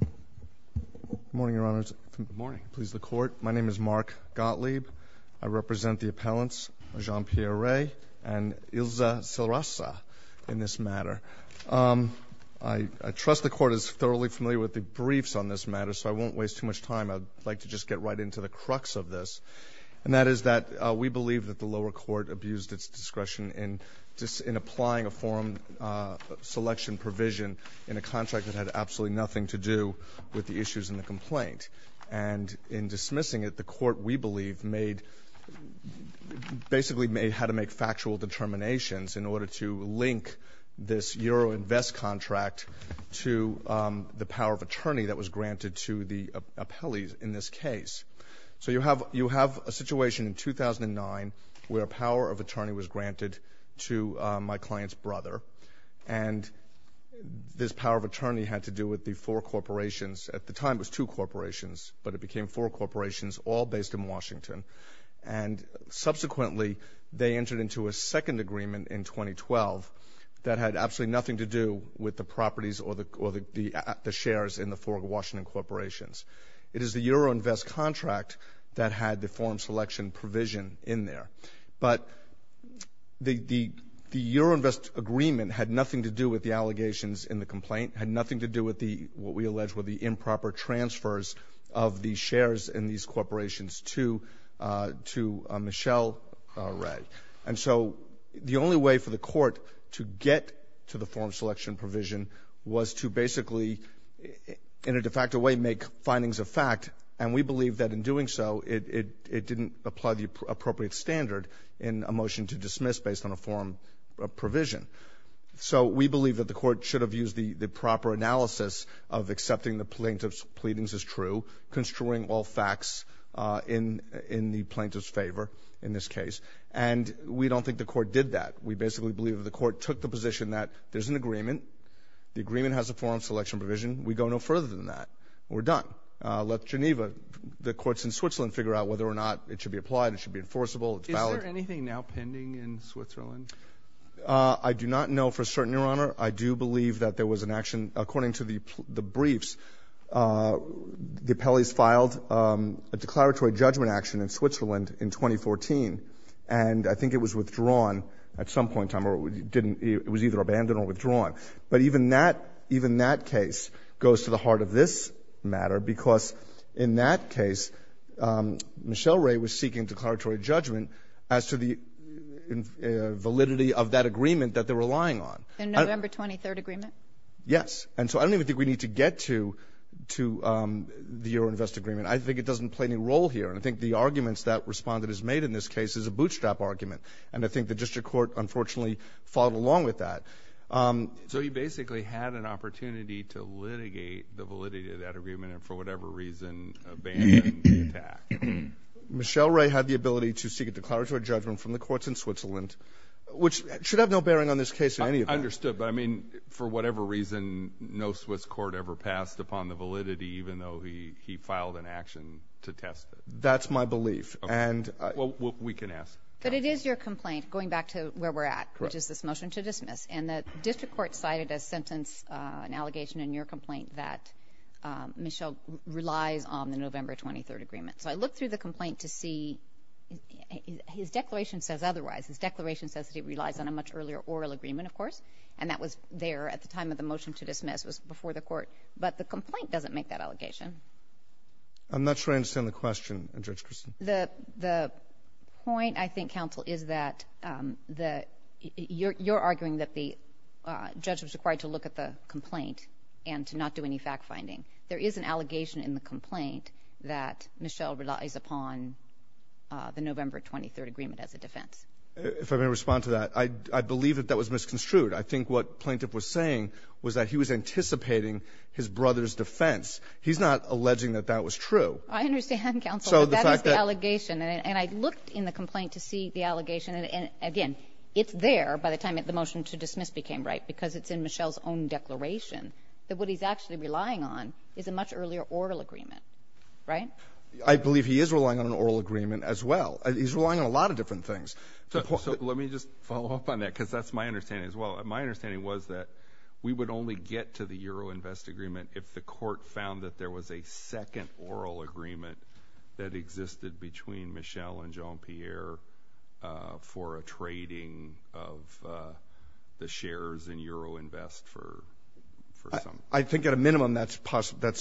Good morning, Your Honor. Good morning. Please, the Court. My name is Mark Gottlieb. I represent the appellants, Jean-Pierre Rey and Ilza Silrassa, in this matter. I trust the Court is thoroughly familiar with the briefs on this matter, so I won't waste too much time. I'd like to just get right into the crux of this, and that is that we believe that the lower court abused its discretion in applying a forum selection provision in a contract that had absolutely nothing to do with the issues in the complaint. And in dismissing it, the Court, we believe, basically had to make factual determinations in order to link this Euroinvest contract to the power of attorney that was granted to the appellees in this case. So you have a situation in 2009 where a power of attorney was granted to my client's brother, and this power of attorney had to do with the four corporations. At the time, it was two corporations, but it became four corporations, all based in Washington. And subsequently, they entered into a second agreement in 2012 that had absolutely nothing to do with the properties or the shares in the four Washington corporations. It is the Euroinvest contract that had the forum selection provision in there. But the Euroinvest agreement had nothing to do with the allegations in the complaint, had nothing to do with what we allege were the improper transfers of the shares in these corporations to Michelle Wray. And so the only way for the Court to get to the forum selection provision was to basically, in a de facto way, make findings of fact. And we believe that in doing so, it didn't apply the appropriate standard in a motion to dismiss based on a forum provision. So we believe that the Court should have used the proper analysis of accepting the plaintiff's pleadings as true, construing all facts in the plaintiff's favor in this case. And we don't think the Court did that. We basically believe that the Court took the position that there's an agreement, the agreement has a forum selection provision, we go no further than that. We're done. Let Geneva, the courts in Switzerland, figure out whether or not it should be applied, it should be enforceable, it's valid. Is there anything now pending in Switzerland? I do not know for certain, Your Honor. I do believe that there was an action, according to the briefs, the appellees filed a declaratory judgment action in Switzerland in 2014, and I think it was withdrawn at some point in time, or it was either abandoned or withdrawn. But even that, even that case goes to the heart of this matter, because in that case, Michelle Wray was seeking declaratory judgment as to the validity of that agreement that they were relying on. In November 23rd agreement? Yes. And so I don't even think we need to get to the Euroinvest agreement. I think it doesn't play any role here. And I think the arguments that Respondent has made in this case is a bootstrap argument. And I think the district court unfortunately followed along with that. So you basically had an opportunity to litigate the validity of that agreement and for whatever reason abandon the attack. Michelle Wray had the ability to seek a declaratory judgment from the courts in Switzerland, which should have no bearing on this case in any event. I understood. But I mean, for whatever reason, no Swiss court ever passed upon the validity even though he filed an action to test it. That's my belief. And we can ask. But it is your complaint going back to where we're at, which is this motion to dismiss. And the district court cited a sentence, an allegation in your complaint that Michelle relies on the November 23rd agreement. So I looked through the complaint to see his declaration says otherwise. His declaration says that he relies on a much earlier oral agreement, of course. And that was there at the time of the motion to dismiss was before the court. But the complaint doesn't make that allegation. I'm not sure I understand the question, Judge Christin. The point, I think, counsel, is that you're arguing that the judge was required to look at the complaint and to not do any fact finding. There is an allegation in the complaint that Michelle relies upon the November 23rd agreement as a defense. If I may respond to that, I believe that that was misconstrued. I think what plaintiff was saying was that he was anticipating his brother's defense. He's not alleging that that was true. I understand, counsel. That is the allegation. And I looked in the complaint to see the allegation. And again, it's there by the time the motion to dismiss became right, because it's in Michelle's own declaration that what he's actually relying on is a much earlier oral agreement. Right? I believe he is relying on an oral agreement as well. He's relying on a lot of different things. So let me just follow up on that, because that's my understanding as well. My understanding was that we would only get to the Euroinvest agreement if the court found that there was a second oral agreement that existed between Michelle and Jean-Pierre for a trading of the shares in Euroinvest for some. I think at a minimum that's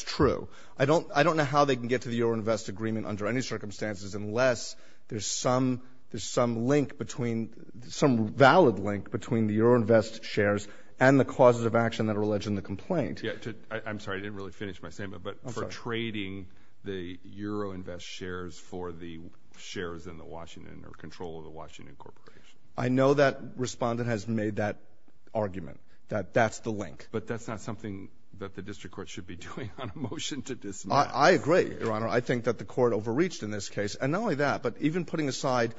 true. I don't know how they can get to the Euroinvest agreement under any circumstances unless there's some valid link between the Euroinvest shares and the causes of action that are alleged in the complaint. I'm sorry. I didn't really finish my statement. But for trading the Euroinvest shares for the shares in the Washington or control of the Washington Corporation. I know that Respondent has made that argument, that that's the link. But that's not something that the district court should be doing on a motion to dismiss. I agree, Your Honor. I think that the court overreached in this case. And not only that, but even putting aside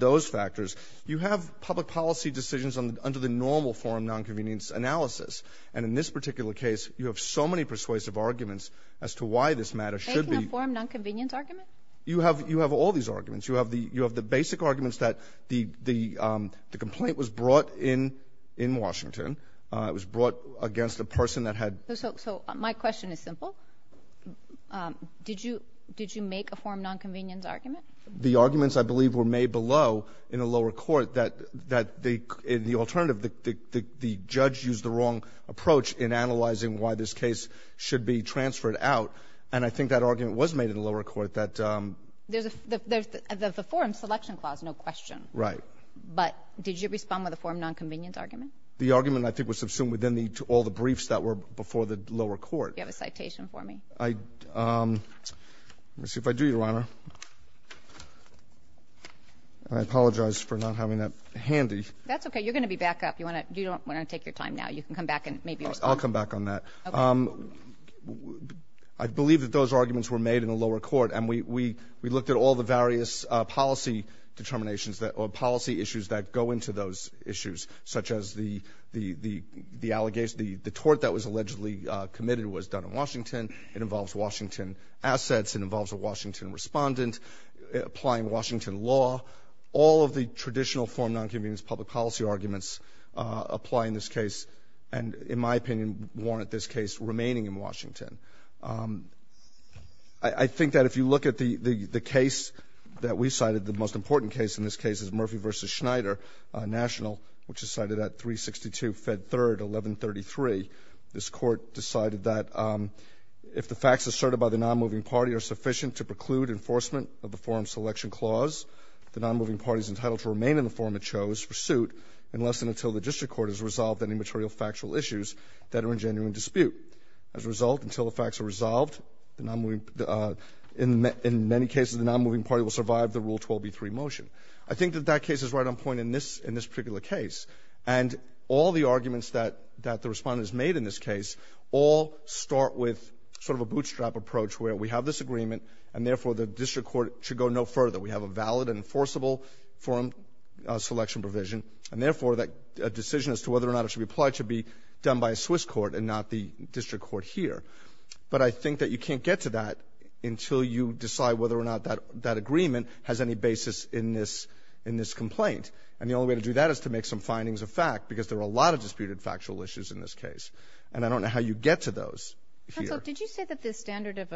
those factors, you have public policy decisions under the normal forum nonconvenience analysis. And in this particular case, you have so many persuasive arguments as to why this matter should be ---- Making a forum nonconvenience argument? You have all these arguments. You have the basic arguments that the complaint was brought in in Washington. It was brought against a person that had ---- So my question is simple. Did you make a forum nonconvenience argument? The arguments, I believe, were made below in the lower court that the alternative the judge used the wrong approach in analyzing why this case should be transferred out. And I think that argument was made in the lower court that ---- There's a forum selection clause, no question. Right. But did you respond with a forum nonconvenience argument? The argument, I think, was assumed within the ---- all the briefs that were before the lower court. Do you have a citation for me? I ---- Let me see if I do, Your Honor. I apologize for not having that handy. That's okay. You're going to be back up. You want to ---- You don't want to take your time now. You can come back and maybe respond. I'll come back on that. Okay. I believe that those arguments were made in the lower court. And we ---- we looked at all the various policy determinations that ---- or policy issues that go into those issues, such as the allegation, the tort that was allegedly committed was done in Washington. It involves Washington assets. It involves a Washington Respondent applying Washington law. All of the traditional forum nonconvenience public policy arguments apply in this case and, in my opinion, warrant this case remaining in Washington. I think that if you look at the case that we cited, the most important case in this case, which is cited at 362, Fed 3rd, 1133, this Court decided that if the facts asserted by the nonmoving party are sufficient to preclude enforcement of the forum's selection clause, the nonmoving party is entitled to remain in the forum it chose for suit unless and until the district court has resolved any material factual issues that are in genuine dispute. As a result, until the facts are resolved, the nonmoving ---- in many cases, the nonmoving party will survive the Rule 12b3 motion. I think that that case is right on point in this particular case. And all the arguments that the Respondent has made in this case all start with sort of a bootstrap approach where we have this agreement and, therefore, the district court should go no further. We have a valid and enforceable forum selection provision, and, therefore, a decision as to whether or not it should be applied to be done by a Swiss court and not the district court here. But I think that you can't get to that until you decide whether or not that agreement has any basis in this complaint. And the only way to do that is to make some findings of fact, because there are a lot of disputed factual issues in this case. And I don't know how you get to those here. Counsel, did you say that the standard of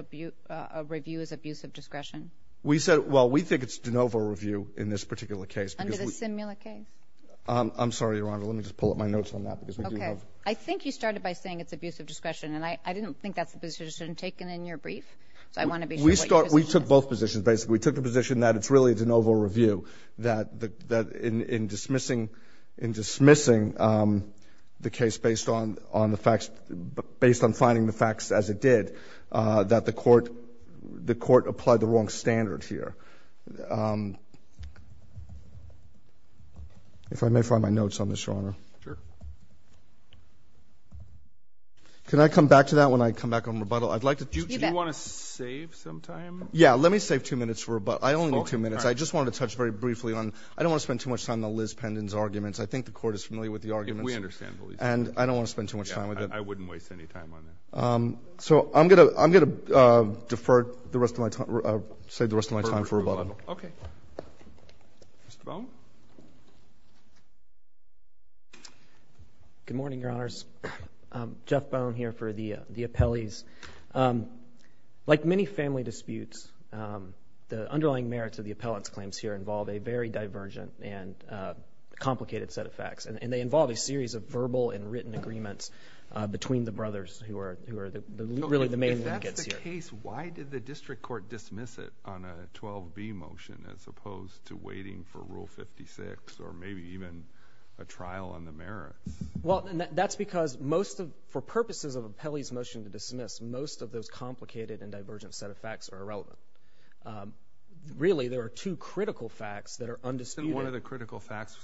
review is abuse of discretion? We said, well, we think it's de novo review in this particular case. Under the SINMILA case? I'm sorry, Your Honor. Let me just pull up my notes on that, because we do have Okay. I think you started by saying it's abuse of discretion, and I didn't think that's the position taken in your brief. So I want to be sure what your position is. We took both positions, basically. We took the position that it's really de novo review, that in dismissing the case based on the facts, based on finding the facts as it did, that the court applied the wrong standard here. If I may find my notes on this, Your Honor. Sure. Can I come back to that when I come back on rebuttal? I'd like to Do you want to save some time? Yeah. Let me save two minutes for rebuttal. I only have two minutes. I just wanted to touch very briefly on – I don't want to spend too much time on the Liz Pendon's arguments. I think the Court is familiar with the arguments. We understand the Liz Pendon's. And I don't want to spend too much time with it. I wouldn't waste any time on that. So I'm going to defer the rest of my time – save the rest of my time for rebuttal. Okay. Mr. Bone? Good morning, Your Honors. Jeff Bone here for the appellees. Like many family disputes, the underlying merits of the appellant's claims here involve a very divergent and complicated set of facts. And they involve a series of verbal and written agreements between the brothers who are really the main linkages here. If that's the case, why did the district court dismiss it on a 12B motion as opposed to waiting for Rule 56 or maybe even a trial on the merits? Well, that's because most of – for purposes of an appellee's motion to dismiss, most of those complicated and divergent set of facts are irrelevant. Really, there are two critical facts that are undisputed. Isn't one of the critical facts,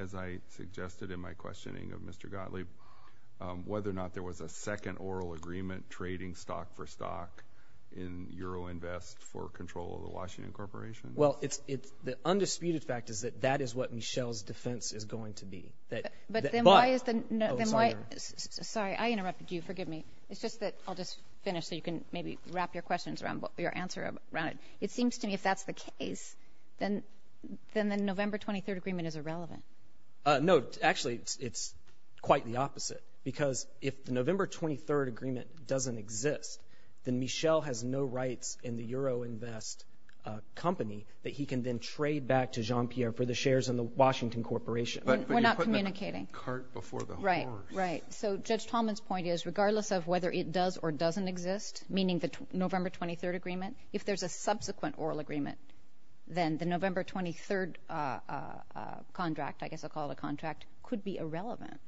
as I suggested in my questioning of Mr. Gottlieb, whether or not there was a second oral agreement trading stock for stock in Euroinvest for control of the Washington Corporation? Well, it's – the undisputed fact is that that is what Michelle's defense is going to be. But then why is the – Oh, sorry. Sorry, I interrupted you. Forgive me. It's just that – I'll just finish so you can maybe wrap your questions around – your answer around it. It seems to me if that's the case, then the November 23rd agreement is irrelevant. No. Actually, it's quite the opposite. Because if the November 23rd agreement doesn't exist, then Michelle has no rights in the Euroinvest company that he can then trade back to Jean-Pierre for the shares in the Washington Corporation. But you're putting the cart before the horse. Right, right. So Judge Tallman's point is regardless of whether it does or doesn't exist, meaning the November 23rd agreement, if there's a subsequent oral agreement, then the November 23rd contract – I guess I'll call it a contract – could be irrelevant.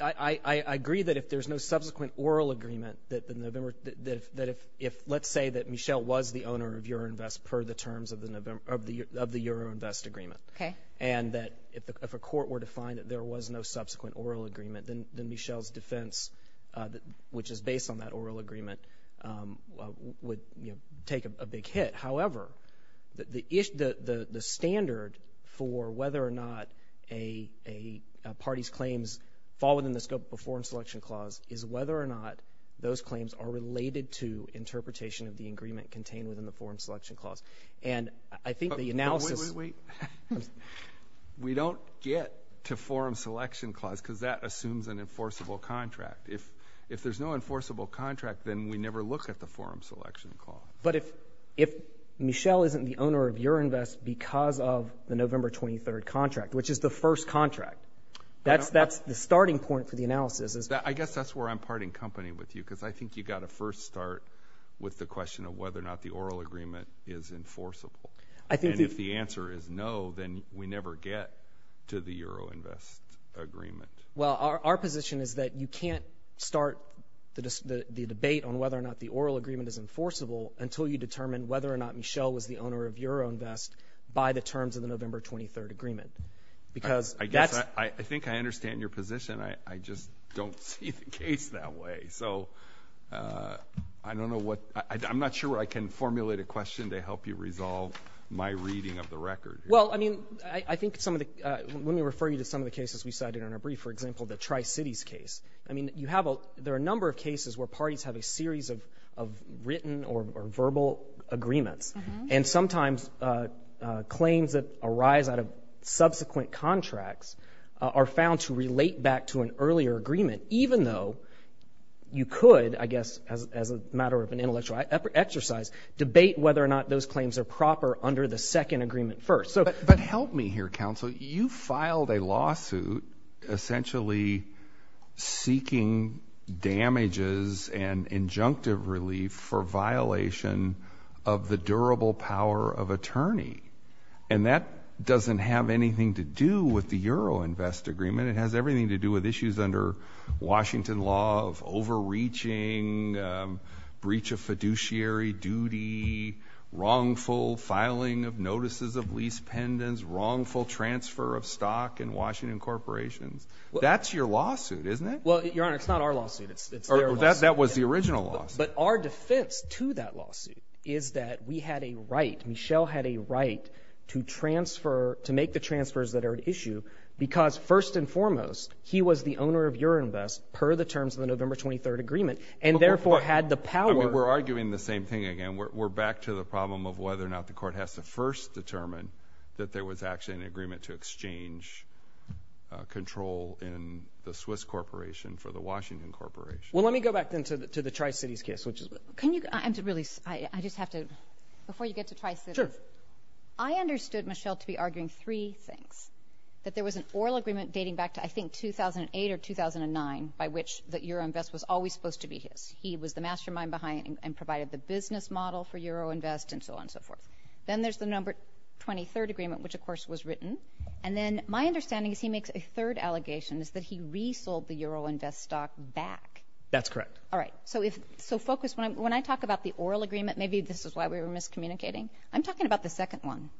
I agree that if there's no subsequent oral agreement that the November – that if – let's say that Michelle was the owner of Euroinvest per the terms of the Euroinvest agreement. Okay. And that if a court were to find that there was no subsequent oral agreement, then Michelle's defense, which is based on that oral agreement, would take a big hit. However, the standard for whether or not a party's claims fall within the scope of a forum selection clause is whether or not those claims are related to interpretation of the agreement contained within the forum selection clause. And I think the analysis – Wait, wait, wait. We don't get to forum selection clause because that assumes an enforceable contract. If there's no enforceable contract, then we never look at the forum selection clause. But if Michelle isn't the owner of Euroinvest because of the November 23rd contract, which is the first contract, that's the starting point for the analysis. I guess that's where I'm parting company with you because I think you've got to first start with the question of whether or not the oral agreement is enforceable. And if the answer is no, then we never get to the Euroinvest agreement. Well, our position is that you can't start the debate on whether or not the oral agreement is enforceable until you determine whether or not Michelle was the owner of Euroinvest by the terms of the November 23rd agreement. Because that's – I think I understand your position. I just don't see the case that way. So I don't know what – I'm not sure I can formulate a question to help you resolve my reading of the record. Well, I mean, I think some of the – let me refer you to some of the cases we cited in our brief. For example, the Tri-Cities case. I mean, you have – there are a number of cases where parties have a series of written or verbal agreements. And sometimes claims that arise out of subsequent contracts are found to relate back to an earlier agreement, even though you could, I guess, as a matter of an intellectual exercise, debate whether or not those claims are proper under the second agreement first. But help me here, counsel. You filed a lawsuit essentially seeking damages and injunctive relief for violation of the durable power of attorney. And that doesn't have anything to do with the Euroinvest agreement. It has everything to do with issues under Washington law of overreaching, breach of fiduciary duty, wrongful filing of notices of lease pendants, wrongful transfer of stock in Washington corporations. That's your lawsuit, isn't it? Well, Your Honor, it's not our lawsuit. It's their lawsuit. That was the original lawsuit. But our defense to that lawsuit is that we had a right – Michel had a right to transfer – to make the transfers that are at issue because, first and foremost, he was the owner of Euroinvest per the terms of the November 23rd agreement, and therefore had the power – We're arguing the same thing again. We're back to the problem of whether or not the court has to first determine that there was actually an agreement to exchange control in the Swiss corporation for the Washington corporation. Well, let me go back, then, to the Tri-Cities case, which is – Can you – I have to really – I just have to – before you get to Tri-Cities – Sure. I understood, Michel, to be arguing three things, that there was an oral agreement dating back to, I think, 2008 or 2009, by which the Euroinvest was always supposed to be his. He was the mastermind behind and provided the business model for Euroinvest and so on and so forth. Then there's the November 23rd agreement, which, of course, was written. And then my understanding is he makes a third allegation, is that he resold the Euroinvest stock back. That's correct. All right. So if – so focus – when I talk about the oral agreement, maybe this is why we were miscommunicating, I'm talking about the second one.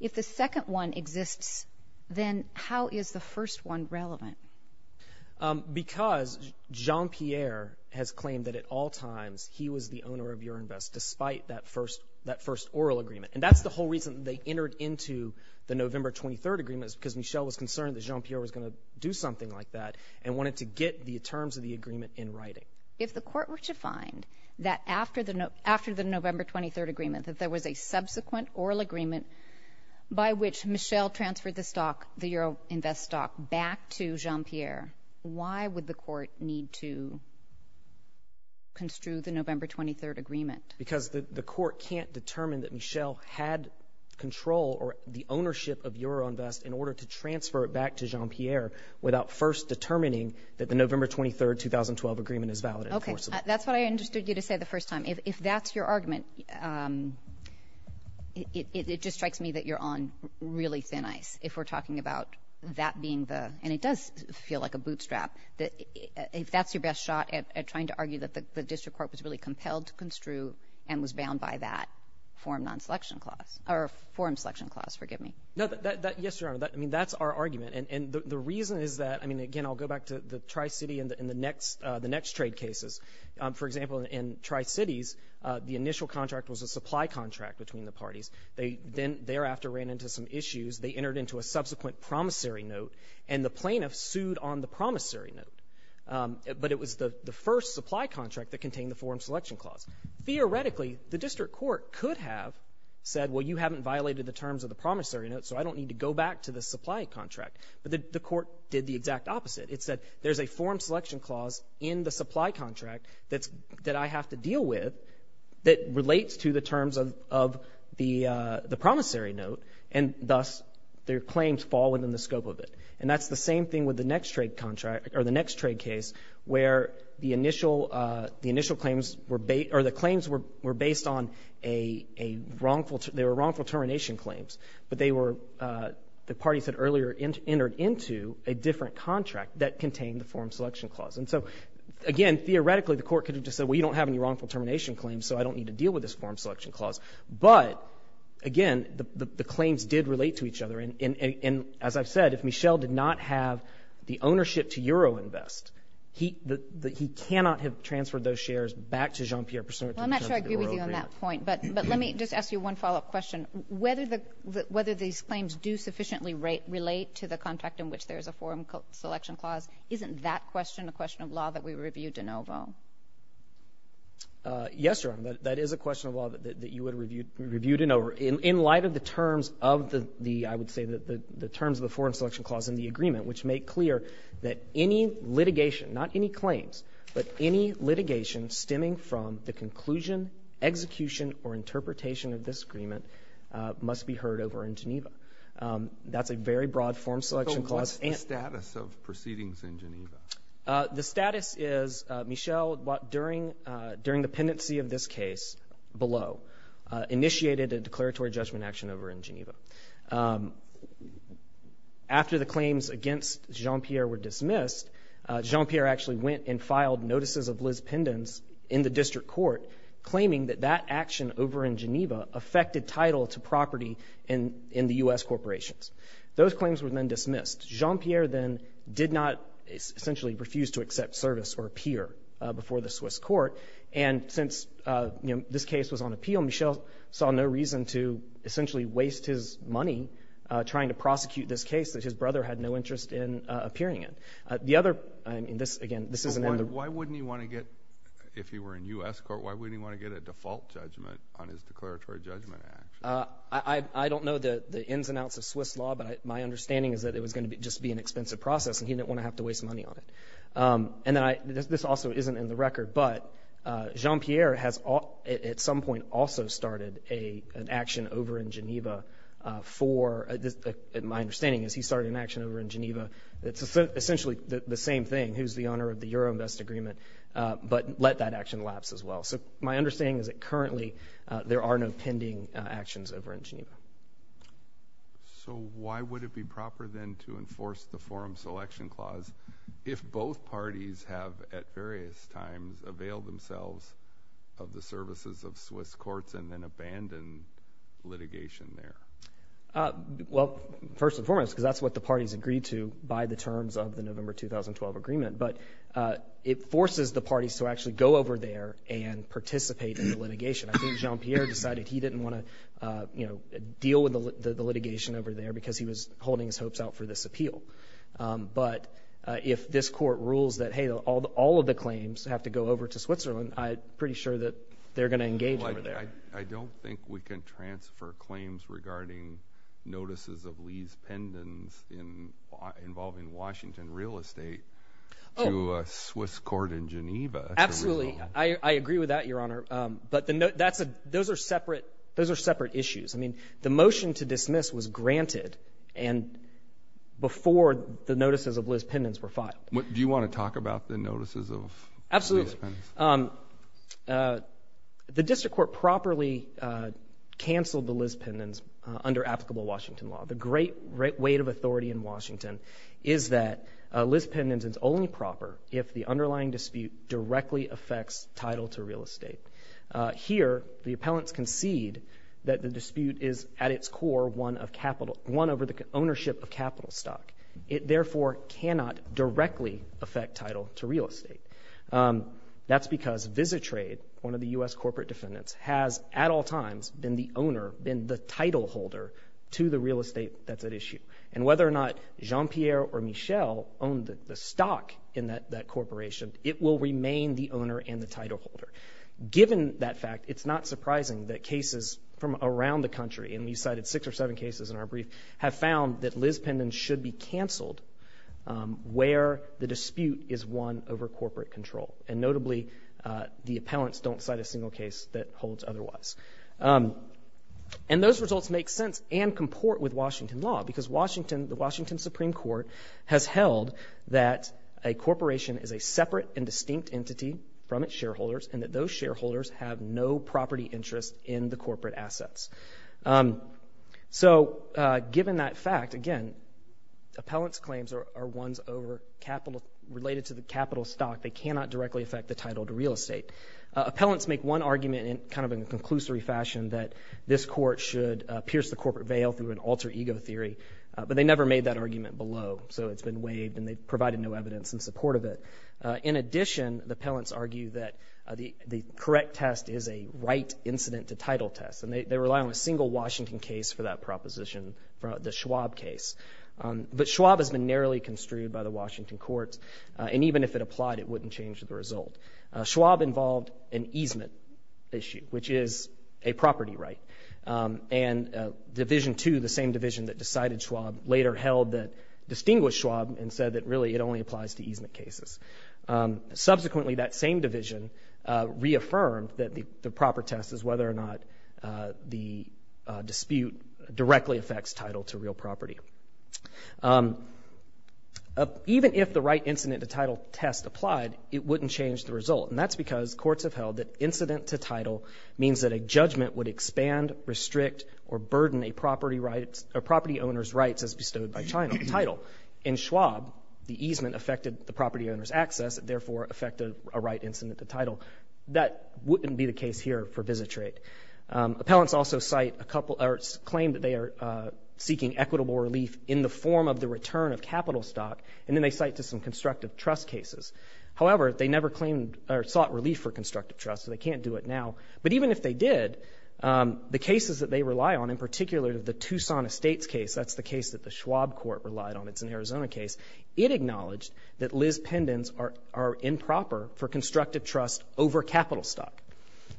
If the second one exists, then how is the first one relevant? Because Jean-Pierre has claimed that, at all times, he was the owner of Euroinvest, despite that first – that first oral agreement. And that's the whole reason they entered into the November 23rd agreement, is because Michel was concerned that Jean-Pierre was going to do something like that and wanted to get the terms of the agreement in writing. If the court were to find that after the – after the November 23rd agreement, that there was a subsequent oral agreement by which Michel transferred the stock, the Euroinvest stock, back to Jean-Pierre, why would the court need to construe the November 23rd agreement? Because the court can't determine that Michel had control or the ownership of Euroinvest in order to transfer it back to Jean-Pierre without first determining that the November 23rd 2012 agreement is valid and enforceable. That's what I understood you to say the first time. If that's your argument, it just strikes me that you're on really thin ice, if we're talking about that being the – and it does feel like a bootstrap – if that's your best shot at trying to argue that the district court was really compelled to construe and was bound by that forum non-selection clause – or forum selection clause, forgive me. No, that – yes, Your Honor. I mean, that's our argument. And the reason is that – I mean, again, I'll go back to the Tri-City and the next – the next trade cases. For example, in Tri-Cities, the initial contract was a supply contract between the parties. They then thereafter ran into some issues. They entered into a subsequent promissory note, and the plaintiff sued on the promissory note. But it was the first supply contract that contained the forum selection clause. Theoretically, the district court could have said, well, you haven't violated the terms of the promissory note, so I don't need to go back to the supply contract. But the court did the exact opposite. It said, there's a forum selection clause in the supply contract that's – that I have to deal with that relates to the terms of the promissory note, and thus their claims fall within the scope of it. And that's the same thing with the next trade contract – or the next trade case, where the initial – the initial claims were – or the claims were based on a wrongful – they were wrongful termination claims. But they were – the plaintiff entered into a different contract that contained the forum selection clause. And so, again, theoretically, the court could have just said, well, you don't have any wrongful termination claims, so I don't need to deal with this forum selection clause. But, again, the claims did relate to each other. And as I've said, if Michel did not have the ownership to Euroinvest, he – he cannot have transferred those shares back to Jean-Pierre Persaud in terms of the Euro agreement. Kagan. I'm not sure I agree with you on that point, but let me just ask you one follow-up question. Whether the – whether these claims do sufficiently relate to the contract in which there is a forum selection clause, isn't that question a question of law that we review de novo? Yes, Your Honor. That is a question of law that you would review de novo. In light of the terms of the – I would say the terms of the forum selection clause in the agreement, which make clear that any litigation – not any claims, but any litigation stemming from the conclusion, execution, or interpretation of this agreement must be heard over in Geneva. That's a very broad forum selection clause. So what's the status of proceedings in Geneva? The status is, Michel, during the pendency of this case below, initiated a declaratory judgment action over in Geneva. After the claims against Jean-Pierre were dismissed, Jean-Pierre actually went and filed notices of Liz Pendens in the district court claiming that that action over in Geneva affected title to property in the U.S. corporations. Those claims were then dismissed. Jean-Pierre then did not essentially refuse to accept service or appear before the Swiss court. And since, you know, this case was on appeal, Michel saw no reason to essentially waste his money trying to prosecute this case that his brother had no interest in appearing in. The other – I mean, this – again, this isn't – But why wouldn't he want to get – if he were in U.S. court, why wouldn't he want to get a default judgment on his declaratory judgment action? I don't know the ins and outs of Swiss law, but my understanding is that it was going to be – just be an expensive process, and he didn't want to have to waste money on it. And then I – this also isn't in the record, but Jean-Pierre has at some point also started an action over in Geneva for – my understanding is he started an action over in Geneva that's essentially the same thing, who's the owner of the Euroinvest agreement, but let that action lapse as well. So my understanding is that currently there are no pending actions over in Geneva. So why would it be proper then to enforce the Forum Selection Clause if both parties have at various times availed themselves of the services of Swiss courts and then abandoned litigation there? Well, first and foremost, because that's what the parties agreed to by the terms of the November 2012 agreement, but it forces the parties to actually go over there and participate in the litigation. I think Jean-Pierre decided he didn't want to deal with the litigation over there because he was holding his hopes out for this appeal. But if this rules that, hey, all of the claims have to go over to Switzerland, I'm pretty sure that they're going to engage over there. I don't think we can transfer claims regarding notices of Liz Pendens involving Washington real estate to a Swiss court in Geneva. Absolutely. I agree with that, Your Honor. But those are separate issues. I mean, the motion to dismiss was granted before the notices of Liz Pendens were filed. Do you want to talk about the notices of Liz Pendens? Absolutely. The district court properly canceled the Liz Pendens under applicable Washington law. The great weight of authority in Washington is that Liz Pendens is only proper if the underlying dispute directly affects title to real estate. Here, the appellants concede that the dispute is, at its core, won over the ownership of capital stock. It therefore cannot directly affect title to real estate. That's because Visitrade, one of the U.S. corporate defendants, has at all times been the owner, been the title holder to the real estate that's at issue. And whether or not Jean-Pierre or Michel own the stock in that corporation, it will remain the owner and the title holder. Given that fact, it's not surprising that cases from around the country, and we cited six or seven cases in our brief, have found that Liz Pendens should be canceled where the dispute is won over corporate control. And notably, the appellants don't cite a single case that holds otherwise. And those results make sense and comport with Washington law, because Washington, the Washington Supreme Court, has held that a corporation is a separate and distinct entity from its shareholders, and that those shareholders have no property interest in the corporate assets. So given that fact, again, appellants' claims are ones over capital, related to the capital stock. They cannot directly affect the title to real estate. Appellants make one argument in kind of a conclusory fashion, that this court should pierce the corporate veil through an alter ego theory, but they never made that argument below. So it's been waived and they've provided no evidence in support of it. In addition, the appellants argue that the correct test is a right incident to title test, and they rely on a single Washington case for that proposition, the Schwab case. But Schwab has been narrowly construed by the Washington courts, and even if it applied, it wouldn't change the result. Schwab involved an easement issue, which is a property right. And Division 2, the same division that decided Schwab, later held that distinguished Schwab and said that really it only applies to easement cases. Subsequently, that same division reaffirmed that the proper test is whether or not the dispute directly affects title to real property. Even if the right incident to title test applied, it wouldn't change the result, and that's because courts have held that incident to title means that a judgment would expand, restrict, or burden a property owner's rights as bestowed by title. In Schwab, the easement affected the property owner's access, and therefore affected a right incident to title. That wouldn't be the case here for visit rate. Appellants also cite a couple, or claim that they are seeking equitable relief in the form of the return of capital stock, and then they cite to some constructive trust cases. However, they never claimed or sought relief for constructive trust, so they can't do it now. But even if they did, the cases that they rely on, in particular, the Tucson Estates case, that's the case that the Schwab court relied on. It's an Arizona case. It acknowledged that Liz Pendens are improper for constructive trust over capital stock.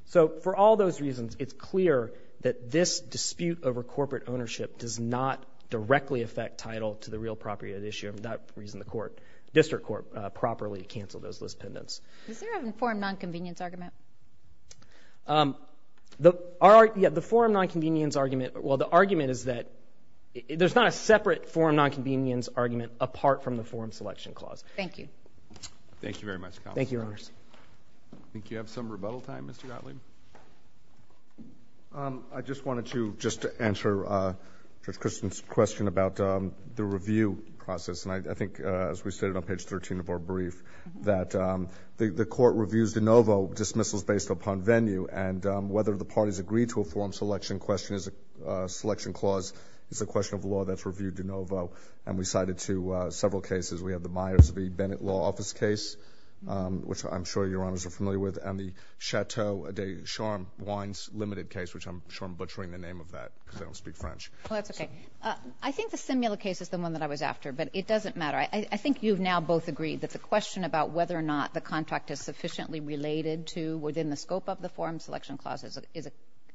So for all those reasons, it's clear that this dispute over corporate ownership does not directly affect title to the real property of the issue, and for that reason the court, District Court, properly canceled those Liz Pendens. Is there an informed nonconvenience argument? The forum nonconvenience argument, well, the argument is that there's not a separate forum nonconvenience argument apart from the forum selection clause. Thank you. Thank you very much, Counselor. Thank you, Your Honors. I think you have some rebuttal time, Mr. Gottlieb. I just wanted to, just to answer Judge Christian's question about the review process, and I think as we stated on page 13 of our brief, that the court reviews de novo dismissals based upon venue, and whether the parties agree to a forum selection question is a selection clause. It's a question of law that's reviewed de novo, and we cited to several cases. We have the Myers v. Bennett Law Office case, which I'm sure Your Honors are familiar with, and the Chateau de Charm Wines Limited case, which I'm sure I'm butchering the name of that because I don't speak French. Well, that's okay. I think the Simila case is the one that I was after, but it doesn't matter. I think you've now both agreed that the question about whether or not the contract is sufficiently related to, within the scope of the forum selection clause,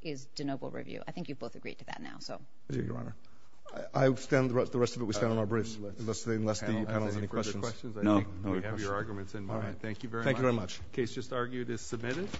is de novo review. I think you've both agreed to that now, so. Thank you, Your Honor. I stand, the rest of it we stand on our briefs, unless the panel has any questions. No. We have your arguments in mind. Thank you very much. Thank you very much. The case just argued is submitted.